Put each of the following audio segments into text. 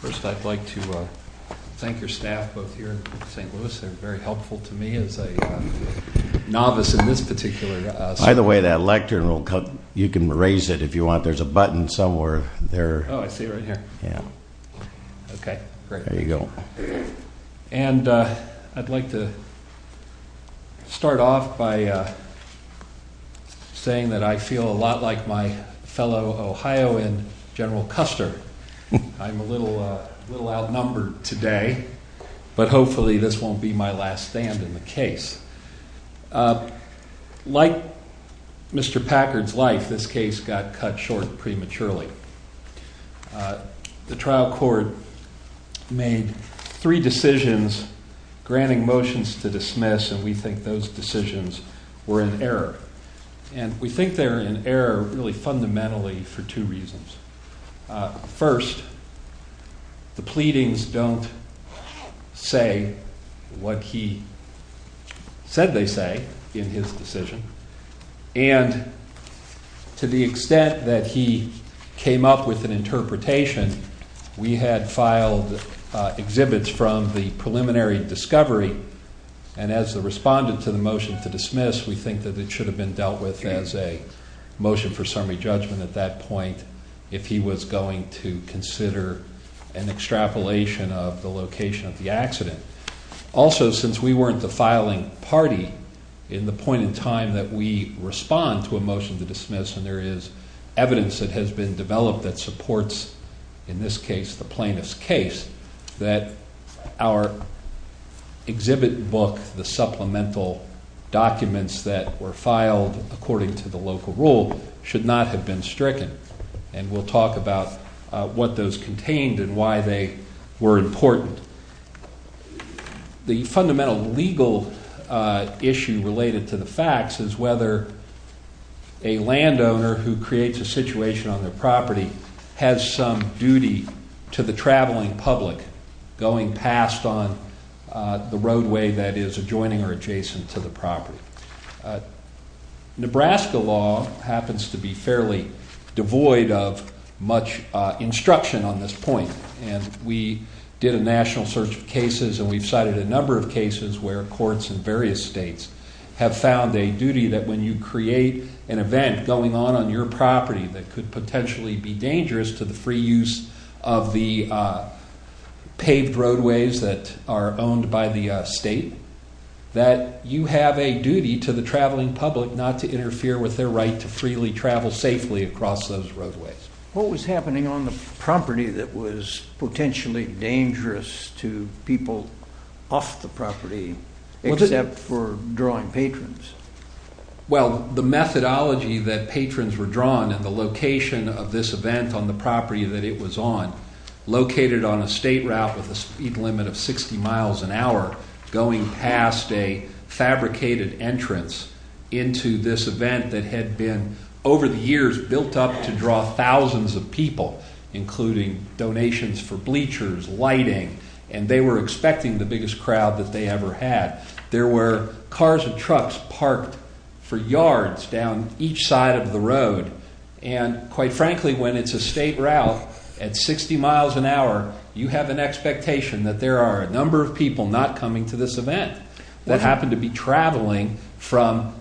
First, I'd like to thank your staff both here in St. Louis. They're very helpful to me as a novice in this particular... By the way, that lectern will come...you can raise it if you want. There's a button somewhere there. Oh, I see it right here. Yeah. Okay, great. There you go. And I'd like to start off by saying that I feel a lot like my fellow Ohioan, General Custer. I'm a little outnumbered today, but hopefully this won't be my last stand in the case. Like Mr. Packard's life, this case got cut short prematurely. The trial court made three decisions granting motions to dismiss, and we think those decisions were in error. And we think they're in error really fundamentally for two reasons. First, the pleadings don't say what he said they say in his decision. And to the extent that he came up with an interpretation, we had filed exhibits from the preliminary discovery, and as the respondent to the motion to dismiss, we think that it should have been dealt with as a motion for summary judgment at that point if he was going to consider an extrapolation of the location of the accident. Also, since we weren't the filing party in the point in time that we respond to a motion to dismiss, and there is evidence that has been developed that supports, in this case, the plaintiff's case, that our exhibit book, the supplemental documents that were filed according to the local rule, should not have been stricken. And we'll talk about what those contained and why they were important. The fundamental legal issue related to the facts is whether a landowner who creates a situation on their property has some duty to the traveling public going past on the roadway that is adjoining or adjacent to the property. Nebraska law happens to be fairly devoid of much instruction on this point, and we did a national search of cases and we've cited a number of cases where courts in various states have found a duty that when you create an event going on on your property that could potentially be dangerous to the free use of the paved roadways that are owned by the state, that you have a duty to the traveling public not to interfere with their right to freely travel safely across those roadways. What was happening on the property that was potentially dangerous to people off the property, except for drawing patrons? Well, the methodology that patrons were drawn and the location of this event on the property that it was on, located on a state route with a speed limit of 60 miles an hour, going past a fabricated entrance into this event that had been, over the years, built up to draw thousands of people, including donations for bleachers, lighting, and they were expecting the biggest crowd that they ever had. There were cars and trucks parked for yards down each side of the road, and quite frankly, when it's a state route at 60 miles an hour, you have an expectation that there are a number of people not coming to this event that happen to be traveling from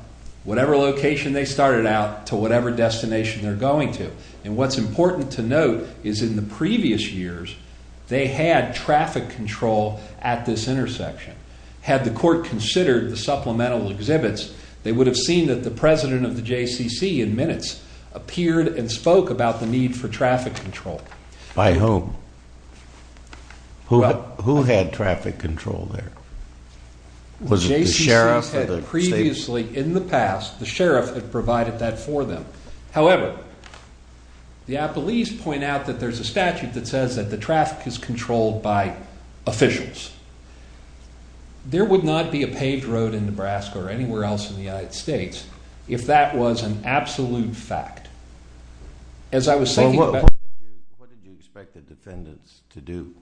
whatever location they started out to whatever destination they're going to. And what's important to note is in the previous years, they had traffic control at this intersection. Had the court considered the supplemental exhibits, they would have seen that the president of the JCCC in minutes appeared and spoke about the need for traffic control. By whom? Who had traffic control there? The JCCC had previously, in the past, the sheriff had provided that for them. However, the appellees point out that there's a statute that says that the traffic is controlled by officials. There would not be a paved road in Nebraska or anywhere else in the United States if that was an absolute fact. As I was saying... What did you expect the defendants to do?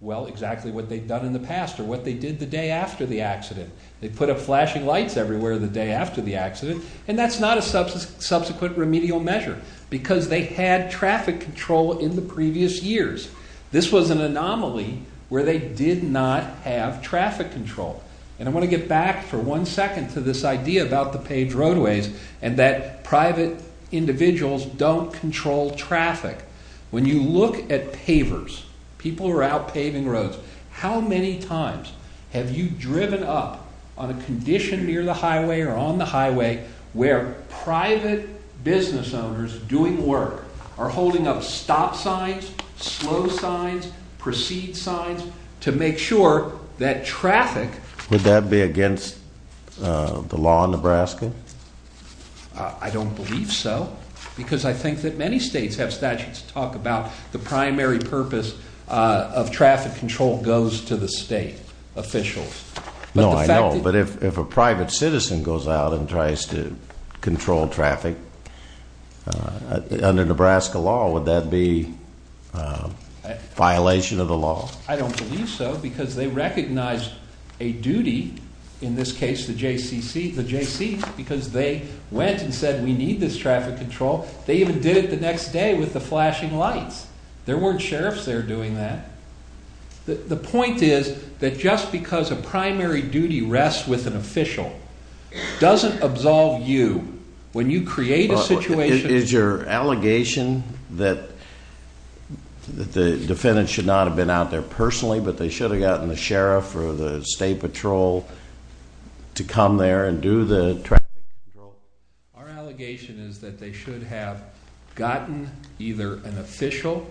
Well, exactly what they'd done in the past or what they did the day after the accident. They put up flashing lights everywhere the day after the accident and that's not a subsequent remedial measure because they had traffic control in the previous years. This was an anomaly where they did not have traffic control. And I want to get back for one second to this idea about the paved roadways and that private individuals don't control traffic. When you look at pavers, people who are out paving roads, how many times have you driven up on a condition near the highway or on the highway where private business owners doing work are holding up stop signs, slow signs, proceed signs to make sure that traffic... Would that be against the law in Nebraska? I don't believe so. Because I think that many states have statutes that talk about the primary purpose of traffic control goes to the state officials. No, I know, but if a private citizen goes out and tries to control traffic, under Nebraska law, would that be a violation of the law? I don't believe so because they recognize a duty, in this case the JC, because they went and said we need this traffic control. They even did it the next day with the flashing lights. There weren't sheriffs there doing that. The point is that just because a primary duty rests with an official doesn't absolve you when you create a situation... but they should have gotten the sheriff or the state patrol to come there and do the traffic control. Our allegation is that they should have gotten either an official.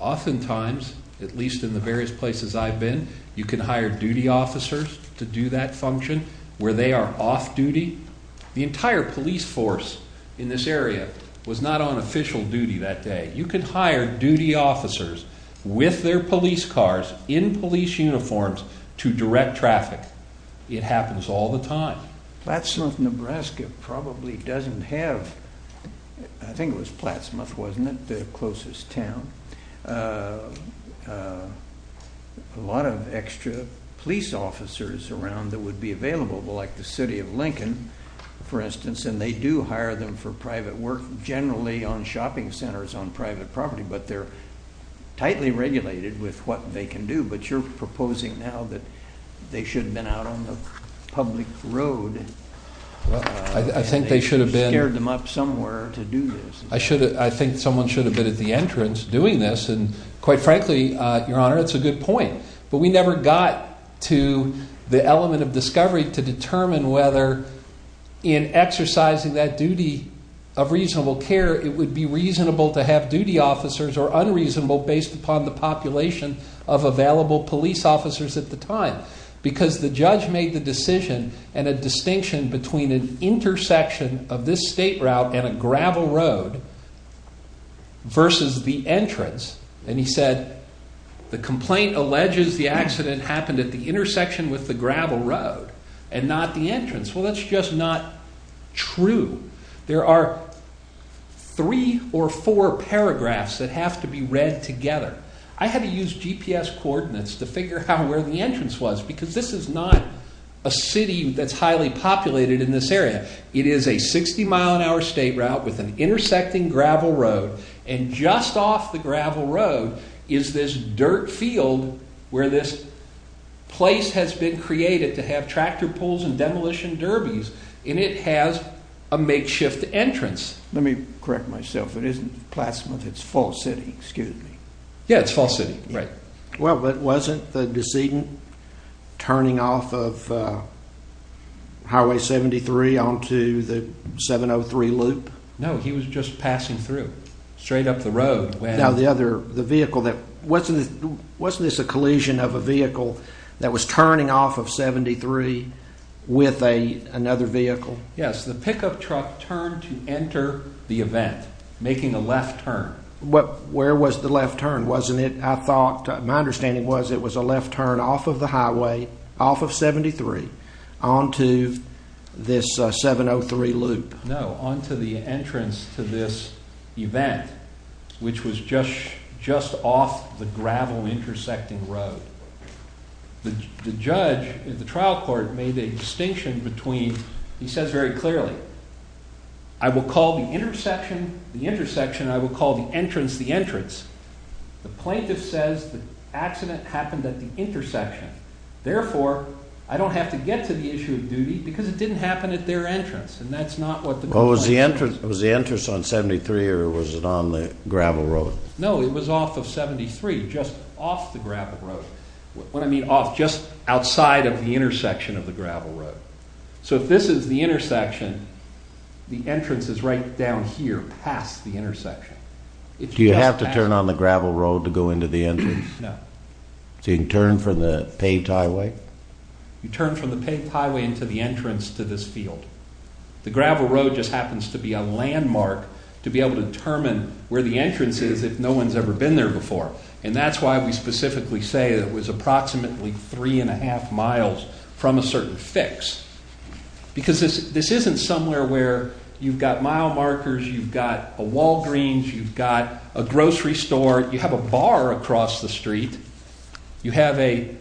Oftentimes, at least in the various places I've been, you can hire duty officers to do that function where they are off duty. The entire police force in this area was not on official duty that day. You can hire duty officers with their police cars, in police uniforms, to direct traffic. It happens all the time. Platt Smith, Nebraska probably doesn't have... I think it was Platt Smith, wasn't it? The closest town. A lot of extra police officers around that would be available, like the city of Lincoln, for instance, and they do hire them for private work, generally on shopping centers on private property, but they're tightly regulated with what they can do. But you're proposing now that they should have been out on the public road. I think they should have been... You scared them up somewhere to do this. I think someone should have been at the entrance doing this. Quite frankly, Your Honor, it's a good point, but we never got to the element of discovery to determine whether, in exercising that duty of reasonable care, it would be reasonable to have duty officers or unreasonable, based upon the population of available police officers at the time. Because the judge made the decision, and a distinction between an intersection of this state route and a gravel road versus the entrance, and he said the complaint alleges the accident happened at the intersection with the gravel road and not the entrance. Well, that's just not true. There are three or four paragraphs that have to be read together. I had to use GPS coordinates to figure out where the entrance was because this is not a city that's highly populated in this area. It is a 60-mile-an-hour state route with an intersecting gravel road and just off the gravel road is this dirt field where this place has been created to have tractor pulls and demolition derbies, and it has a makeshift entrance. Let me correct myself. It isn't Plattsmouth. It's Fall City. Excuse me. Yeah, it's Fall City. Right. Well, but wasn't the decedent turning off of Highway 73 onto the 703 loop? No, he was just passing through, straight up the road. Now, the vehicle, wasn't this a collision of a vehicle that was turning off of 73 with another vehicle? Yes, the pickup truck turned to enter the event, making a left turn. Where was the left turn? My understanding was it was a left turn off of the highway, off of 73, onto this 703 loop. No, onto the entrance to this event, which was just off the gravel intersecting road. The judge, the trial court, made a distinction between, he says very clearly, I will call the intersection the intersection and I will call the entrance the entrance. The plaintiff says the accident happened at the intersection. Therefore, I don't have to get to the issue of duty because it didn't happen at their entrance, and that's not what the complaint says. Was the entrance on 73 or was it on the gravel road? No, it was off of 73, just off the gravel road. When I mean off, just outside of the intersection of the gravel road. So if this is the intersection, the entrance is right down here, past the intersection. Do you have to turn on the gravel road to go into the entrance? No. So you can turn from the paved highway? You turn from the paved highway into the entrance to this field. The gravel road just happens to be a landmark to be able to determine where the entrance is if no one's ever been there before. And that's why we specifically say it was approximately three and a half miles from a certain fix. Because this isn't somewhere where you've got mile markers, you've got a Walgreens, you've got a grocery store, you have a bar across the street. You have an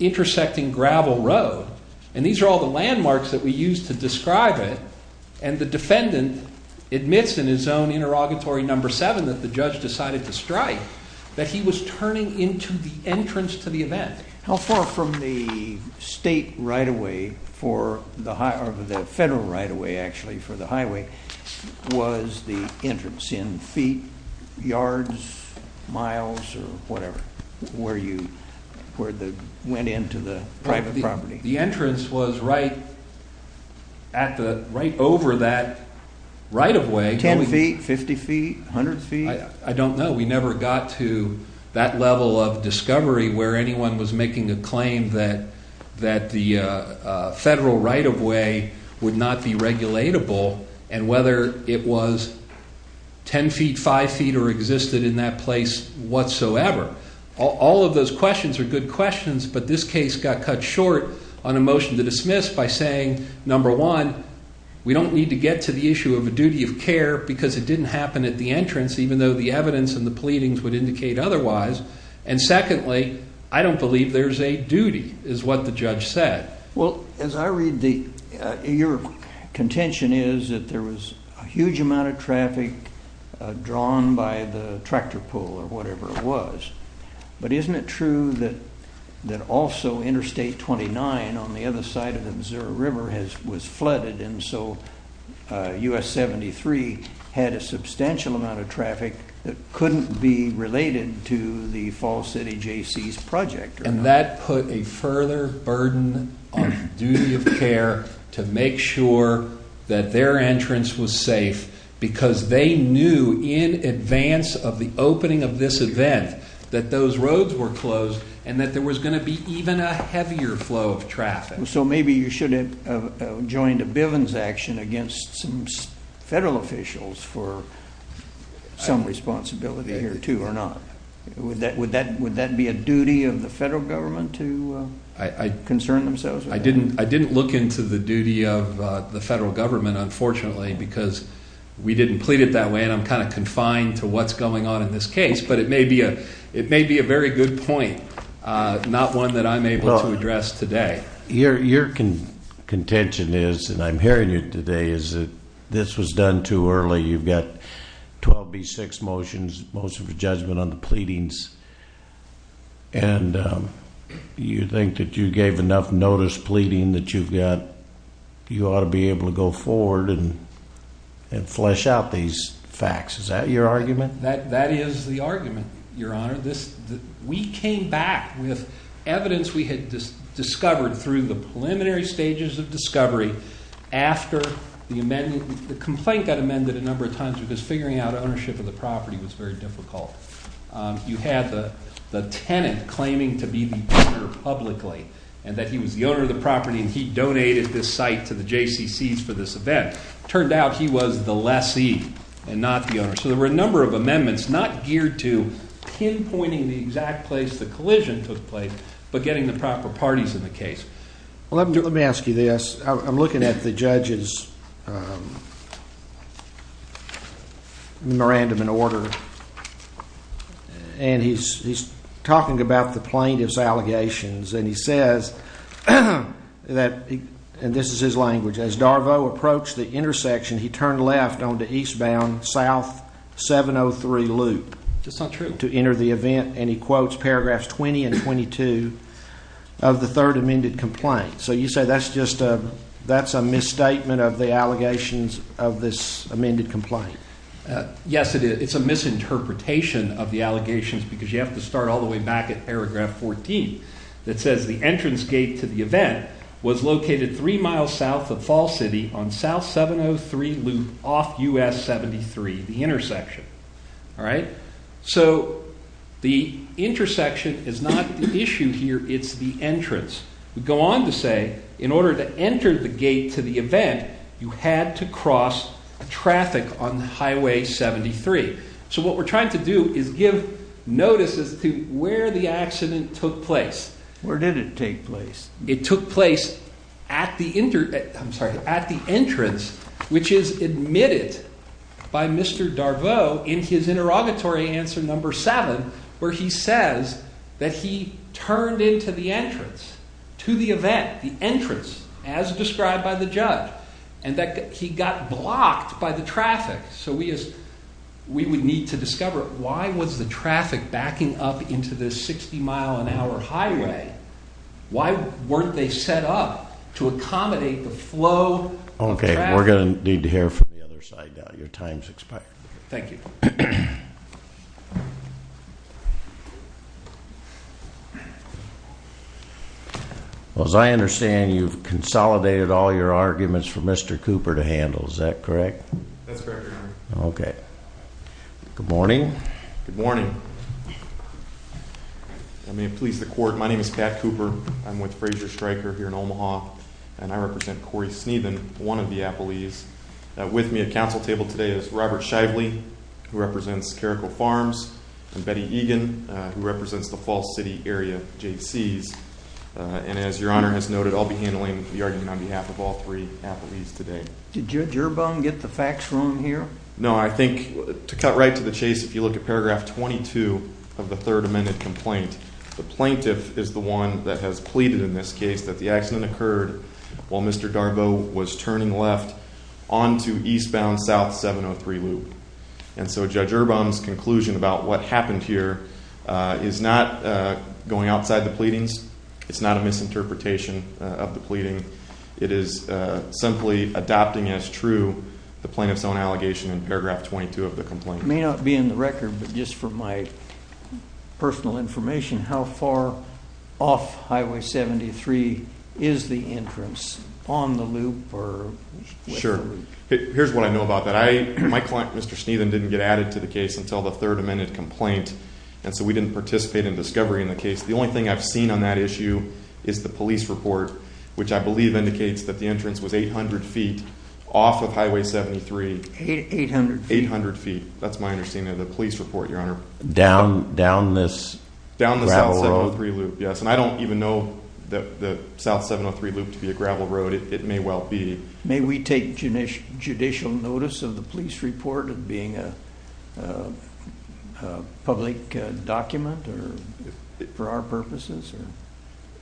intersecting gravel road. And these are all the landmarks that we use to describe it. And the defendant admits in his own interrogatory number seven that the judge decided to strike that he was turning into the entrance to the event. How far from the state right-of-way for the federal right-of-way actually for the highway was the entrance in feet, yards, miles, or whatever, where you went into the private property? The entrance was right over that right-of-way. Ten feet, 50 feet, 100 feet? I don't know. We never got to that level of discovery where anyone was making a claim that the federal right-of-way would not be regulatable and whether it was ten feet, five feet, or existed in that place whatsoever. All of those questions are good questions, but this case got cut short on a motion to dismiss by saying, number one, we don't need to get to the issue of a duty of care because it didn't happen at the entrance, even though the evidence and the pleadings would indicate otherwise. And secondly, I don't believe there's a duty, is what the judge said. Well, as I read, your contention is that there was a huge amount of traffic drawn by the tractor pull or whatever it was, but isn't it true that also Interstate 29 on the other side of the Missouri River was flooded and so U.S. 73 had a substantial amount of traffic that couldn't be related to the Fall City Jaycees Project? And that put a further burden on the duty of care to make sure that their entrance was safe because they knew in advance of the opening of this event that those roads were closed and that there was going to be even a heavier flow of traffic. So maybe you should have joined a Bivens action against some federal officials for some responsibility here, too, or not? Would that be a duty of the federal government to concern themselves with that? I didn't look into the duty of the federal government, unfortunately, because we didn't plead it that way and I'm kind of confined to what's going on in this case, but it may be a very good point, not one that I'm able to address today. Your contention is, and I'm hearing it today, is that this was done too early. You've got 12B6 motions, motion for judgment on the pleadings, and you think that you gave enough notice pleading that you've got, you ought to be able to go forward and flesh out these facts. Is that your argument? That is the argument, Your Honor. We came back with evidence we had discovered through the preliminary stages of discovery after the amendment, the complaint got amended a number of times because figuring out ownership of the property was very difficult. You had the tenant claiming to be the owner publicly and that he was the owner of the property and he donated this site to the JCCC for this event. It turned out he was the lessee and not the owner. So there were a number of amendments not geared to pinpointing the exact place the collision took place, but getting the proper parties in the case. Well, let me ask you this. I'm looking at the judge's memorandum and order and he's talking about the plaintiff's allegations and he says that, and this is his language, as Darvo approached the intersection he turned left onto eastbound South 703 Loop to enter the event and he quotes paragraphs 20 and 22 of the third amended complaint. So you say that's a misstatement of the allegations of this amended complaint? Yes, it is. It's a misinterpretation of the allegations because you have to start all the way back at paragraph 14 that says the entrance gate to the event was located three miles south of Fall City on South 703 Loop off US 73, the intersection. So the intersection is not the issue here, it's the entrance. We go on to say in order to enter the gate to the event you had to cross traffic on Highway 73. So what we're trying to do is give notice as to where the accident took place. Where did it take place? It took place at the entrance which is admitted by Mr. Darvo in his interrogatory answer number seven where he says that he turned into the entrance to the event, the entrance, as described by the judge and that he got blocked by the traffic. So we would need to discover why was the traffic backing up into this 60 mile an hour highway? Why weren't they set up to accommodate the flow of traffic? Okay, we're going to need to hear from the other side now. Your time has expired. Thank you. Well, as I understand you've consolidated all your arguments for Mr. Cooper to handle, is that correct? That's correct, Your Honor. Okay. Good morning. Good morning. If I may please the court, my name is Pat Cooper. I'm with Frazier Stryker here in Omaha and I represent Corey Sneedman, one of the appellees. With me at council table today is Robert Shively who represents Caracol Farms and Betty Egan who represents the Falls City area JCs. And as Your Honor has noted, I'll be handling the argument on behalf of all three appellees today. Did your bum get the facts wrong here? No, I think to cut right to the chase, if you look at paragraph 22 of the Third Amendment complaint, the plaintiff is the one that has pleaded in this case that the accident occurred while Mr. Garbo was turning left onto eastbound South 703 Loop. And so Judge Urbaum's conclusion about what happened here is not going outside the pleadings. It's not a misinterpretation of the pleading. It is simply adopting as true the plaintiff's own allegation in paragraph 22 of the complaint. It may not be in the record, but just for my personal information, how far off Highway 73 is the entrance on the loop? Sure. Here's what I know about that. My client, Mr. Sneedman, didn't get added to the case until the Third Amendment complaint, and so we didn't participate in discovery in the case. The only thing I've seen on that issue is the police report, which I believe indicates that the entrance was 800 feet off of Highway 73. 800 feet? 800 feet. That's my understanding of the police report, Your Honor. Down this gravel road? Down the South 703 Loop, yes. And I don't even know the South 703 Loop to be a gravel road. It may well be. May we take judicial notice of the police report of being a public document for our purposes?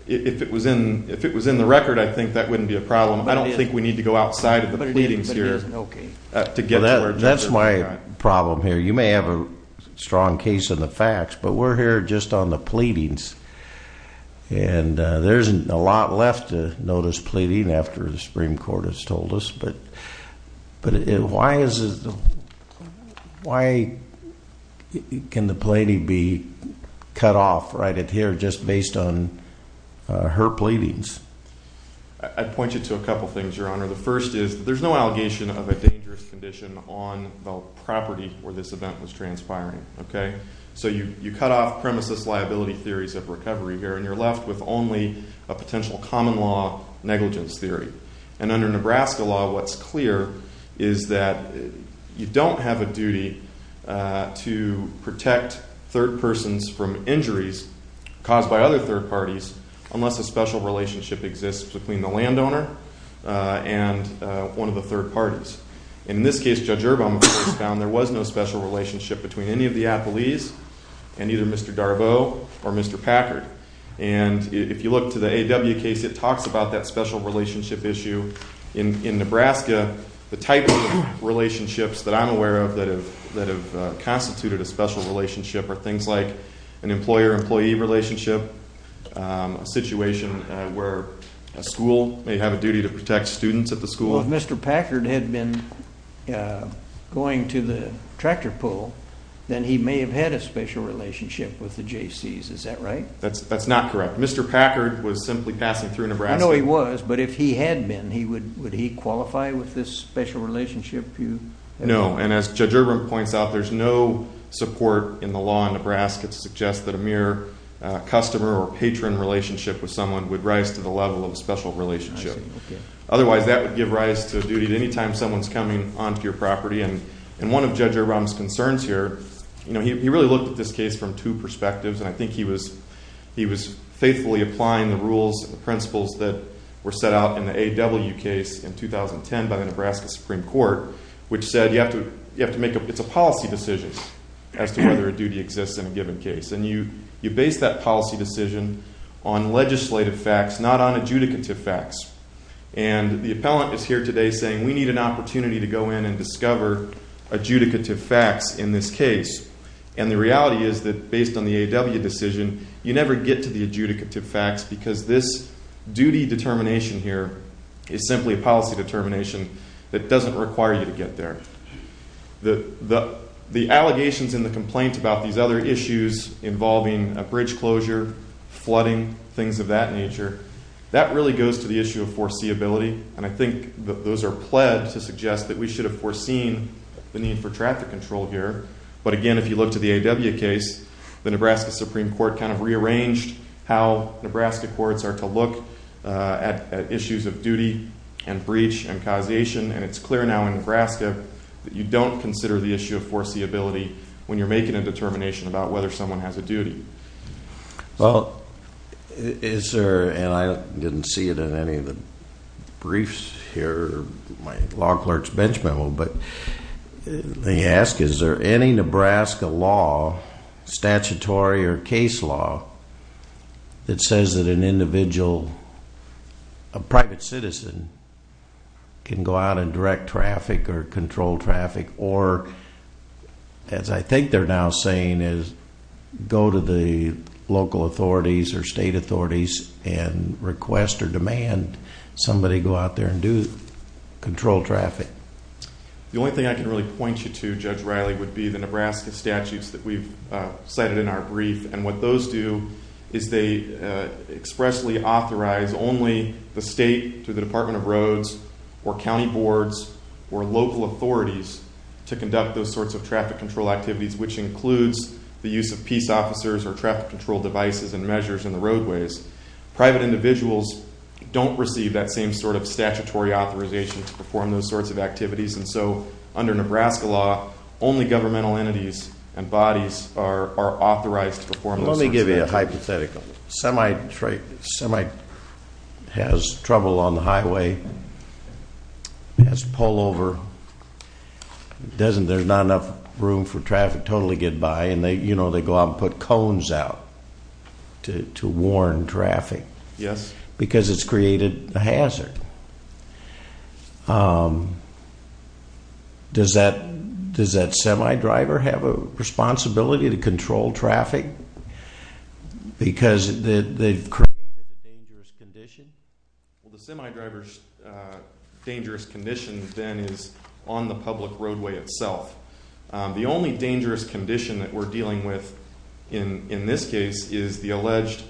If it was in the record, I think that wouldn't be a problem. I don't think we need to go outside of the pleadings here. That's my problem here. You may have a strong case in the facts, but we're here just on the pleadings, and there isn't a lot left to notice pleading after the Supreme Court has told us. But why can the pleading be cut off right here just based on her pleadings? I'd point you to a couple things, Your Honor. The first is there's no allegation of a dangerous condition on the property where this event was transpiring, okay? So you cut off premises liability theories of recovery here, and you're left with only a potential common law negligence theory. And under Nebraska law, what's clear is that you don't have a duty to protect third persons from injuries caused by other third parties unless a special relationship exists between the landowner and one of the third parties. And in this case, Judge Urban, of course, found there was no special relationship between any of the appellees and either Mr. Darbo or Mr. Packard. And if you look to the A.W. case, it talks about that special relationship issue. In Nebraska, the type of relationships that I'm aware of that have constituted a special relationship are things like an employer-employee relationship, a situation where a school may have a duty to protect students at the school. Well, if Mr. Packard had been going to the tractor pull, then he may have had a special relationship with the Jaycees. Is that right? That's not correct. Mr. Packard was simply passing through Nebraska. I know he was, but if he had been, would he qualify with this special relationship? No, and as Judge Urban points out, there's no support in the law in Nebraska to suggest that a mere customer or patron relationship with someone would rise to the level of a special relationship. Otherwise, that would give rise to a duty to any time someone's coming onto your property. And one of Judge Urban's concerns here, he really looked at this case from two perspectives, and I think he was faithfully applying the rules and the principles that were set out in the A.W. case in 2010 by the Nebraska Supreme Court, which said you have to make a – it's a policy decision as to whether a duty exists in a given case. And you base that policy decision on legislative facts, not on adjudicative facts. And the appellant is here today saying we need an opportunity to go in and discover adjudicative facts in this case. And the reality is that based on the A.W. decision, you never get to the adjudicative facts because this duty determination here is simply a policy determination that doesn't require you to get there. The allegations in the complaint about these other issues involving a bridge closure, flooding, things of that nature, that really goes to the issue of foreseeability, and I think those are pledged to suggest that we should have foreseen the need for traffic control here. But again, if you look to the A.W. case, the Nebraska Supreme Court kind of rearranged how Nebraska courts are to look at issues of duty and breach and causation. And it's clear now in Nebraska that you don't consider the issue of foreseeability when you're making a determination about whether someone has a duty. Well, is there – and I didn't see it in any of the briefs here or my law clerk's bench memo, but they ask is there any Nebraska law, statutory or case law, that says that an individual, a private citizen, can go out and direct traffic or control traffic or as I think they're now saying is go to the local authorities or state authorities and request or demand somebody go out there and do control traffic. The only thing I can really point you to, Judge Riley, would be the Nebraska statutes that we've cited in our brief. And what those do is they expressly authorize only the state through the Department of Roads or county boards or local authorities to conduct those sorts of traffic control activities, which includes the use of peace officers or traffic control devices and measures in the roadways. Private individuals don't receive that same sort of statutory authorization to perform those sorts of activities. And so under Nebraska law, only governmental entities and bodies are authorized to perform those sorts of activities. Let me give you a hypothetical. A semi has trouble on the highway, has to pull over, there's not enough room for traffic to totally get by, and they go out and put cones out to warn traffic. Yes. Because it's created a hazard. Does that semi driver have a responsibility to control traffic? Because they've created a dangerous condition? Well, the semi driver's dangerous condition then is on the public roadway itself. The only dangerous condition that we're dealing with in this case is the alleged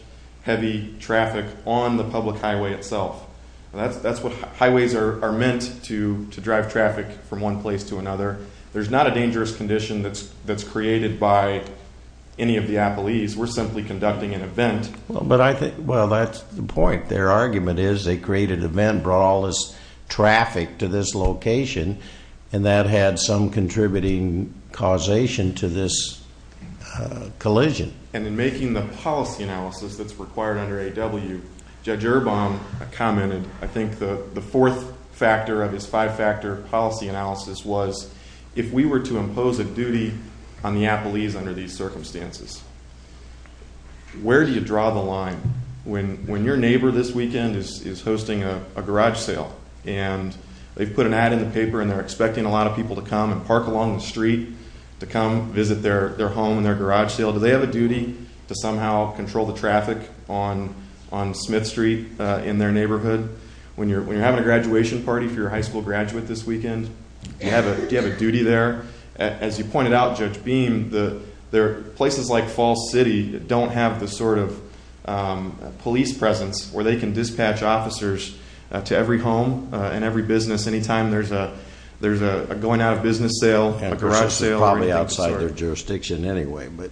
heavy traffic on the public highway itself. That's what highways are meant to, to drive traffic from one place to another. There's not a dangerous condition that's created by any of the appellees. We're simply conducting an event. But I think, well, that's the point. Their argument is they created an event, brought all this traffic to this location, and that had some contributing causation to this collision. And in making the policy analysis that's required under AW, Judge Urbaum commented, I think the fourth factor of his five-factor policy analysis was, if we were to impose a duty on the appellees under these circumstances, where do you draw the line? When your neighbor this weekend is hosting a garage sale, and they've put an ad in the paper, and they're expecting a lot of people to come and park along the street to come visit their home and their garage sale. Do they have a duty to somehow control the traffic on Smith Street in their neighborhood? When you're having a graduation party for your high school graduate this weekend, do you have a duty there? As you pointed out, Judge Beam, places like Falls City don't have the sort of police presence where they can dispatch officers to every home and every business anytime there's a going-out-of-business sale, a garage sale. Probably outside their jurisdiction anyway, but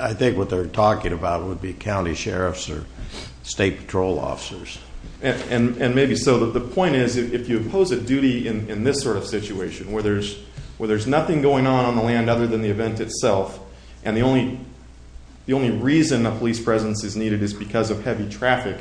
I think what they're talking about would be county sheriffs or state patrol officers. And maybe so that the point is, if you impose a duty in this sort of situation, where there's nothing going on on the land other than the event itself, and the only reason a police presence is needed is because of heavy traffic,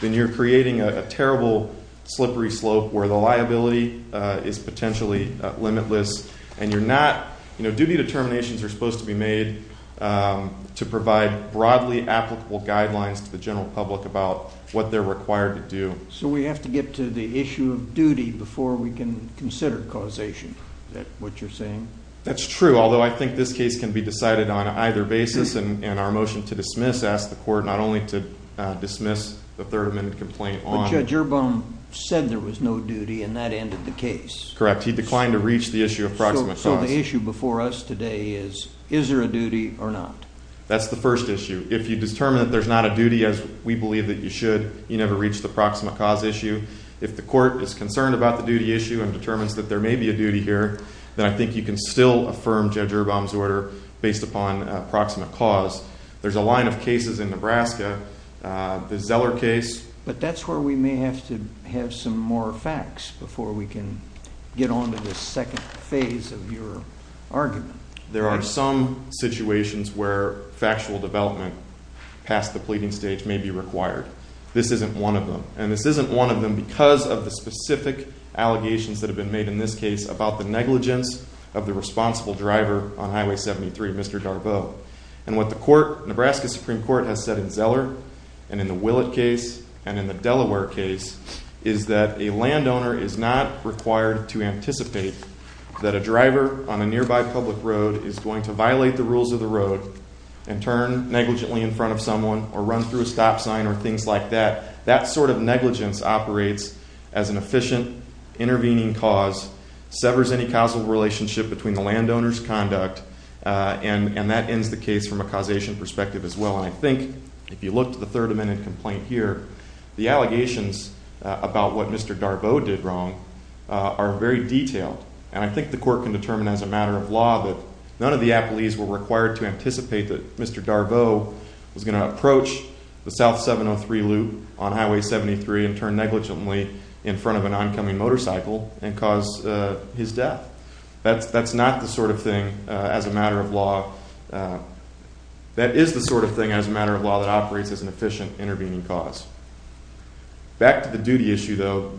then you're creating a terrible, slippery slope where the liability is potentially limitless, and duty determinations are supposed to be made to provide broadly applicable guidelines to the general public about what they're required to do. So we have to get to the issue of duty before we can consider causation, is that what you're saying? That's true, although I think this case can be decided on either basis, and our motion to dismiss asks the court not only to dismiss the Third Amendment complaint on it. But Judge Urbaum said there was no duty, and that ended the case. Correct, he declined to reach the issue of proximate cause. So the issue before us today is, is there a duty or not? That's the first issue. If you determine that there's not a duty, as we believe that you should, you never reach the proximate cause issue. If the court is concerned about the duty issue and determines that there may be a duty here, then I think you can still affirm Judge Urbaum's order based upon proximate cause. There's a line of cases in Nebraska, the Zeller case. But that's where we may have to have some more facts before we can get on to the second phase of your argument. There are some situations where factual development past the pleading stage may be required. This isn't one of them, and this isn't one of them because of the specific allegations that have been made in this case about the negligence of the responsible driver on Highway 73, Mr. Darbo. And what the court, Nebraska Supreme Court, has said in Zeller and in the Willett case and in the Delaware case, is that a landowner is not required to anticipate that a driver on a nearby public road is going to violate the rules of the road and turn negligently in front of someone or run through a stop sign or things like that. That sort of negligence operates as an efficient intervening cause, severs any causal relationship between the landowner's conduct, and that ends the case from a causation perspective as well. And I think if you look to the Third Amendment complaint here, the allegations about what Mr. Darbo did wrong are very detailed. And I think the court can determine as a matter of law that none of the applees were required to anticipate that Mr. Darbo was going to approach the South 703 loop on Highway 73 and turn negligently in front of an oncoming motorcycle and cause his death. That's not the sort of thing as a matter of law. That is the sort of thing as a matter of law that operates as an efficient intervening cause. Back to the duty issue, though,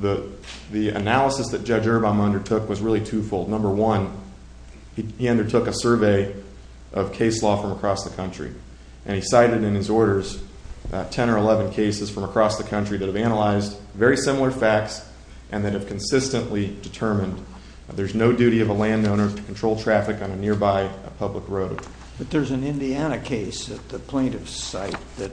the analysis that Judge Urban undertook was really twofold. Number one, he undertook a survey of case law from across the country. And he cited in his orders 10 or 11 cases from across the country that have analyzed very similar facts and that have consistently determined there's no duty of a landowner to control traffic on a nearby public road. But there's an Indiana case at the plaintiff's site that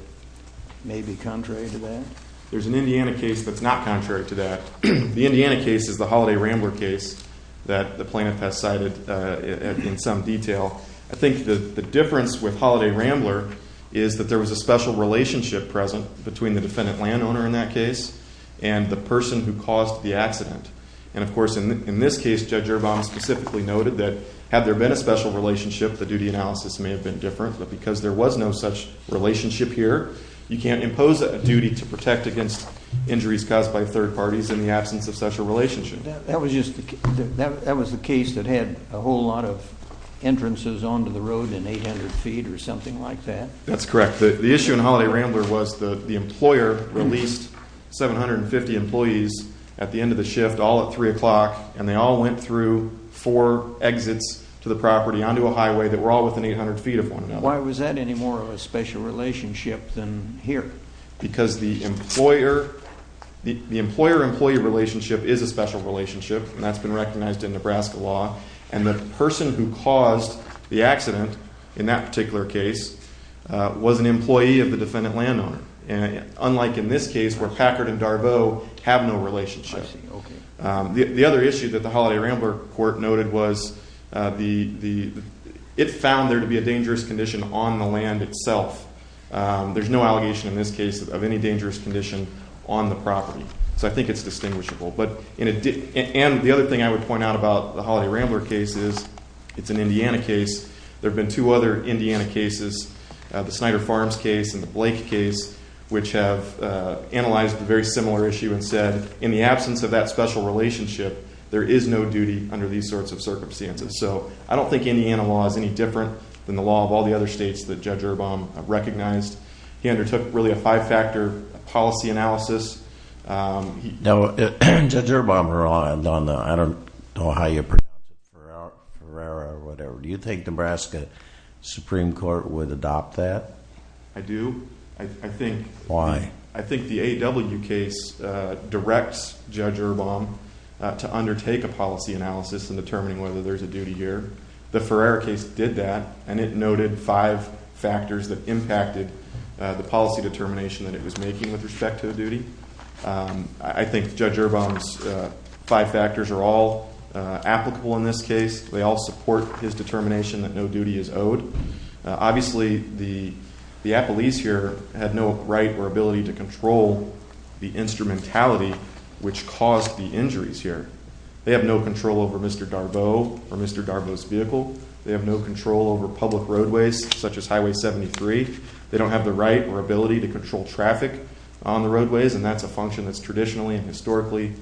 may be contrary to that. There's an Indiana case that's not contrary to that. The Indiana case is the Holiday Rambler case that the plaintiff has cited in some detail. I think the difference with Holiday Rambler is that there was a special relationship present between the defendant landowner in that case and the person who caused the accident. And, of course, in this case, Judge Urban specifically noted that had there been a special relationship, the duty analysis may have been different. But because there was no such relationship here, you can't impose a duty to protect against injuries caused by third parties in the absence of such a relationship. That was the case that had a whole lot of entrances onto the road in 800 feet or something like that? That's correct. The issue in Holiday Rambler was the employer released 750 employees at the end of the shift all at 3 o'clock, and they all went through four exits to the property onto a highway that were all within 800 feet of one another. Why was that any more of a special relationship than here? Because the employer-employee relationship is a special relationship, and that's been recognized in Nebraska law. And the person who caused the accident in that particular case was an employee of the defendant landowner, unlike in this case where Packard and Darbo have no relationship. The other issue that the Holiday Rambler court noted was it found there to be a dangerous condition on the land itself. There's no allegation in this case of any dangerous condition on the property. So I think it's distinguishable. And the other thing I would point out about the Holiday Rambler case is it's an Indiana case. There have been two other Indiana cases, the Snyder Farms case and the Blake case, which have analyzed a very similar issue and said in the absence of that special relationship, there is no duty under these sorts of circumstances. So I don't think Indiana law is any different than the law of all the other states that Judge Erbom recognized. He undertook really a five-factor policy analysis. Now, Judge Erbom relied on the – I don't know how you pronounce it, Ferrara or whatever. Do you think Nebraska Supreme Court would adopt that? I do. I think. Why? The Ferrara case did that, and it noted five factors that impacted the policy determination that it was making with respect to the duty. I think Judge Erbom's five factors are all applicable in this case. They all support his determination that no duty is owed. Obviously, the appellees here had no right or ability to control the instrumentality which caused the injuries here. They have no control over Mr. Darbo or Mr. Darbo's vehicle. They have no control over public roadways such as Highway 73. They don't have the right or ability to control traffic on the roadways, and that's a function that's traditionally and historically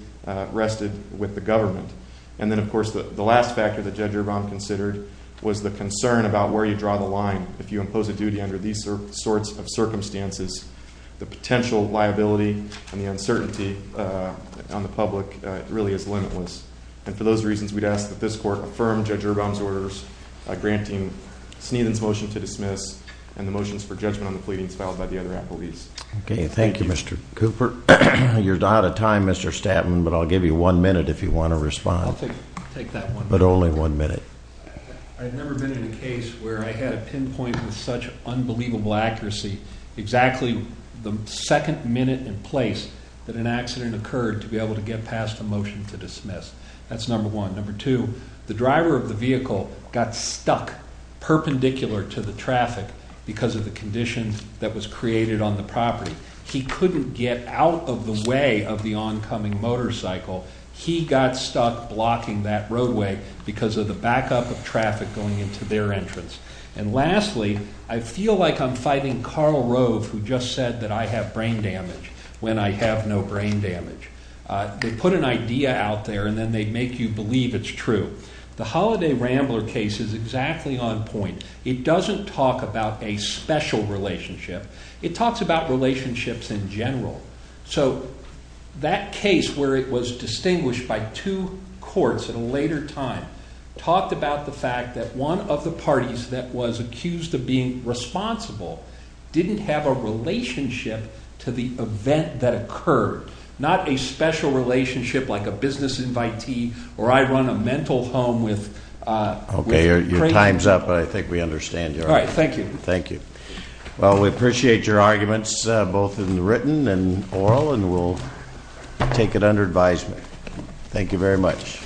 rested with the government. And then, of course, the last factor that Judge Erbom considered was the concern about where you draw the line if you impose a duty under these sorts of circumstances. The potential liability and the uncertainty on the public really is limitless. And for those reasons, we'd ask that this court affirm Judge Erbom's orders granting Sneathan's motion to dismiss and the motions for judgment on the pleadings filed by the other appellees. Okay. Thank you, Mr. Cooper. You're out of time, Mr. Statman, but I'll give you one minute if you want to respond. I'll take that one minute. But only one minute. I've never been in a case where I had a pinpoint with such unbelievable accuracy exactly the second minute in place that an accident occurred to be able to get past a motion to dismiss. That's number one. Number two, the driver of the vehicle got stuck perpendicular to the traffic because of the condition that was created on the property. He couldn't get out of the way of the oncoming motorcycle. He got stuck blocking that roadway because of the backup of traffic going into their entrance. And lastly, I feel like I'm fighting Karl Rove who just said that I have brain damage when I have no brain damage. They put an idea out there and then they make you believe it's true. The Holiday Rambler case is exactly on point. It doesn't talk about a special relationship. It talks about relationships in general. So that case where it was distinguished by two courts at a later time talked about the fact that one of the parties that was accused of being responsible didn't have a relationship to the event that occurred. Not a special relationship like a business invitee or I run a mental home with crazy people. Okay, your time's up, but I think we understand your argument. All right, thank you. Thank you. Well, we appreciate your arguments, both in written and oral, and we'll take it under advisement. Thank you very much.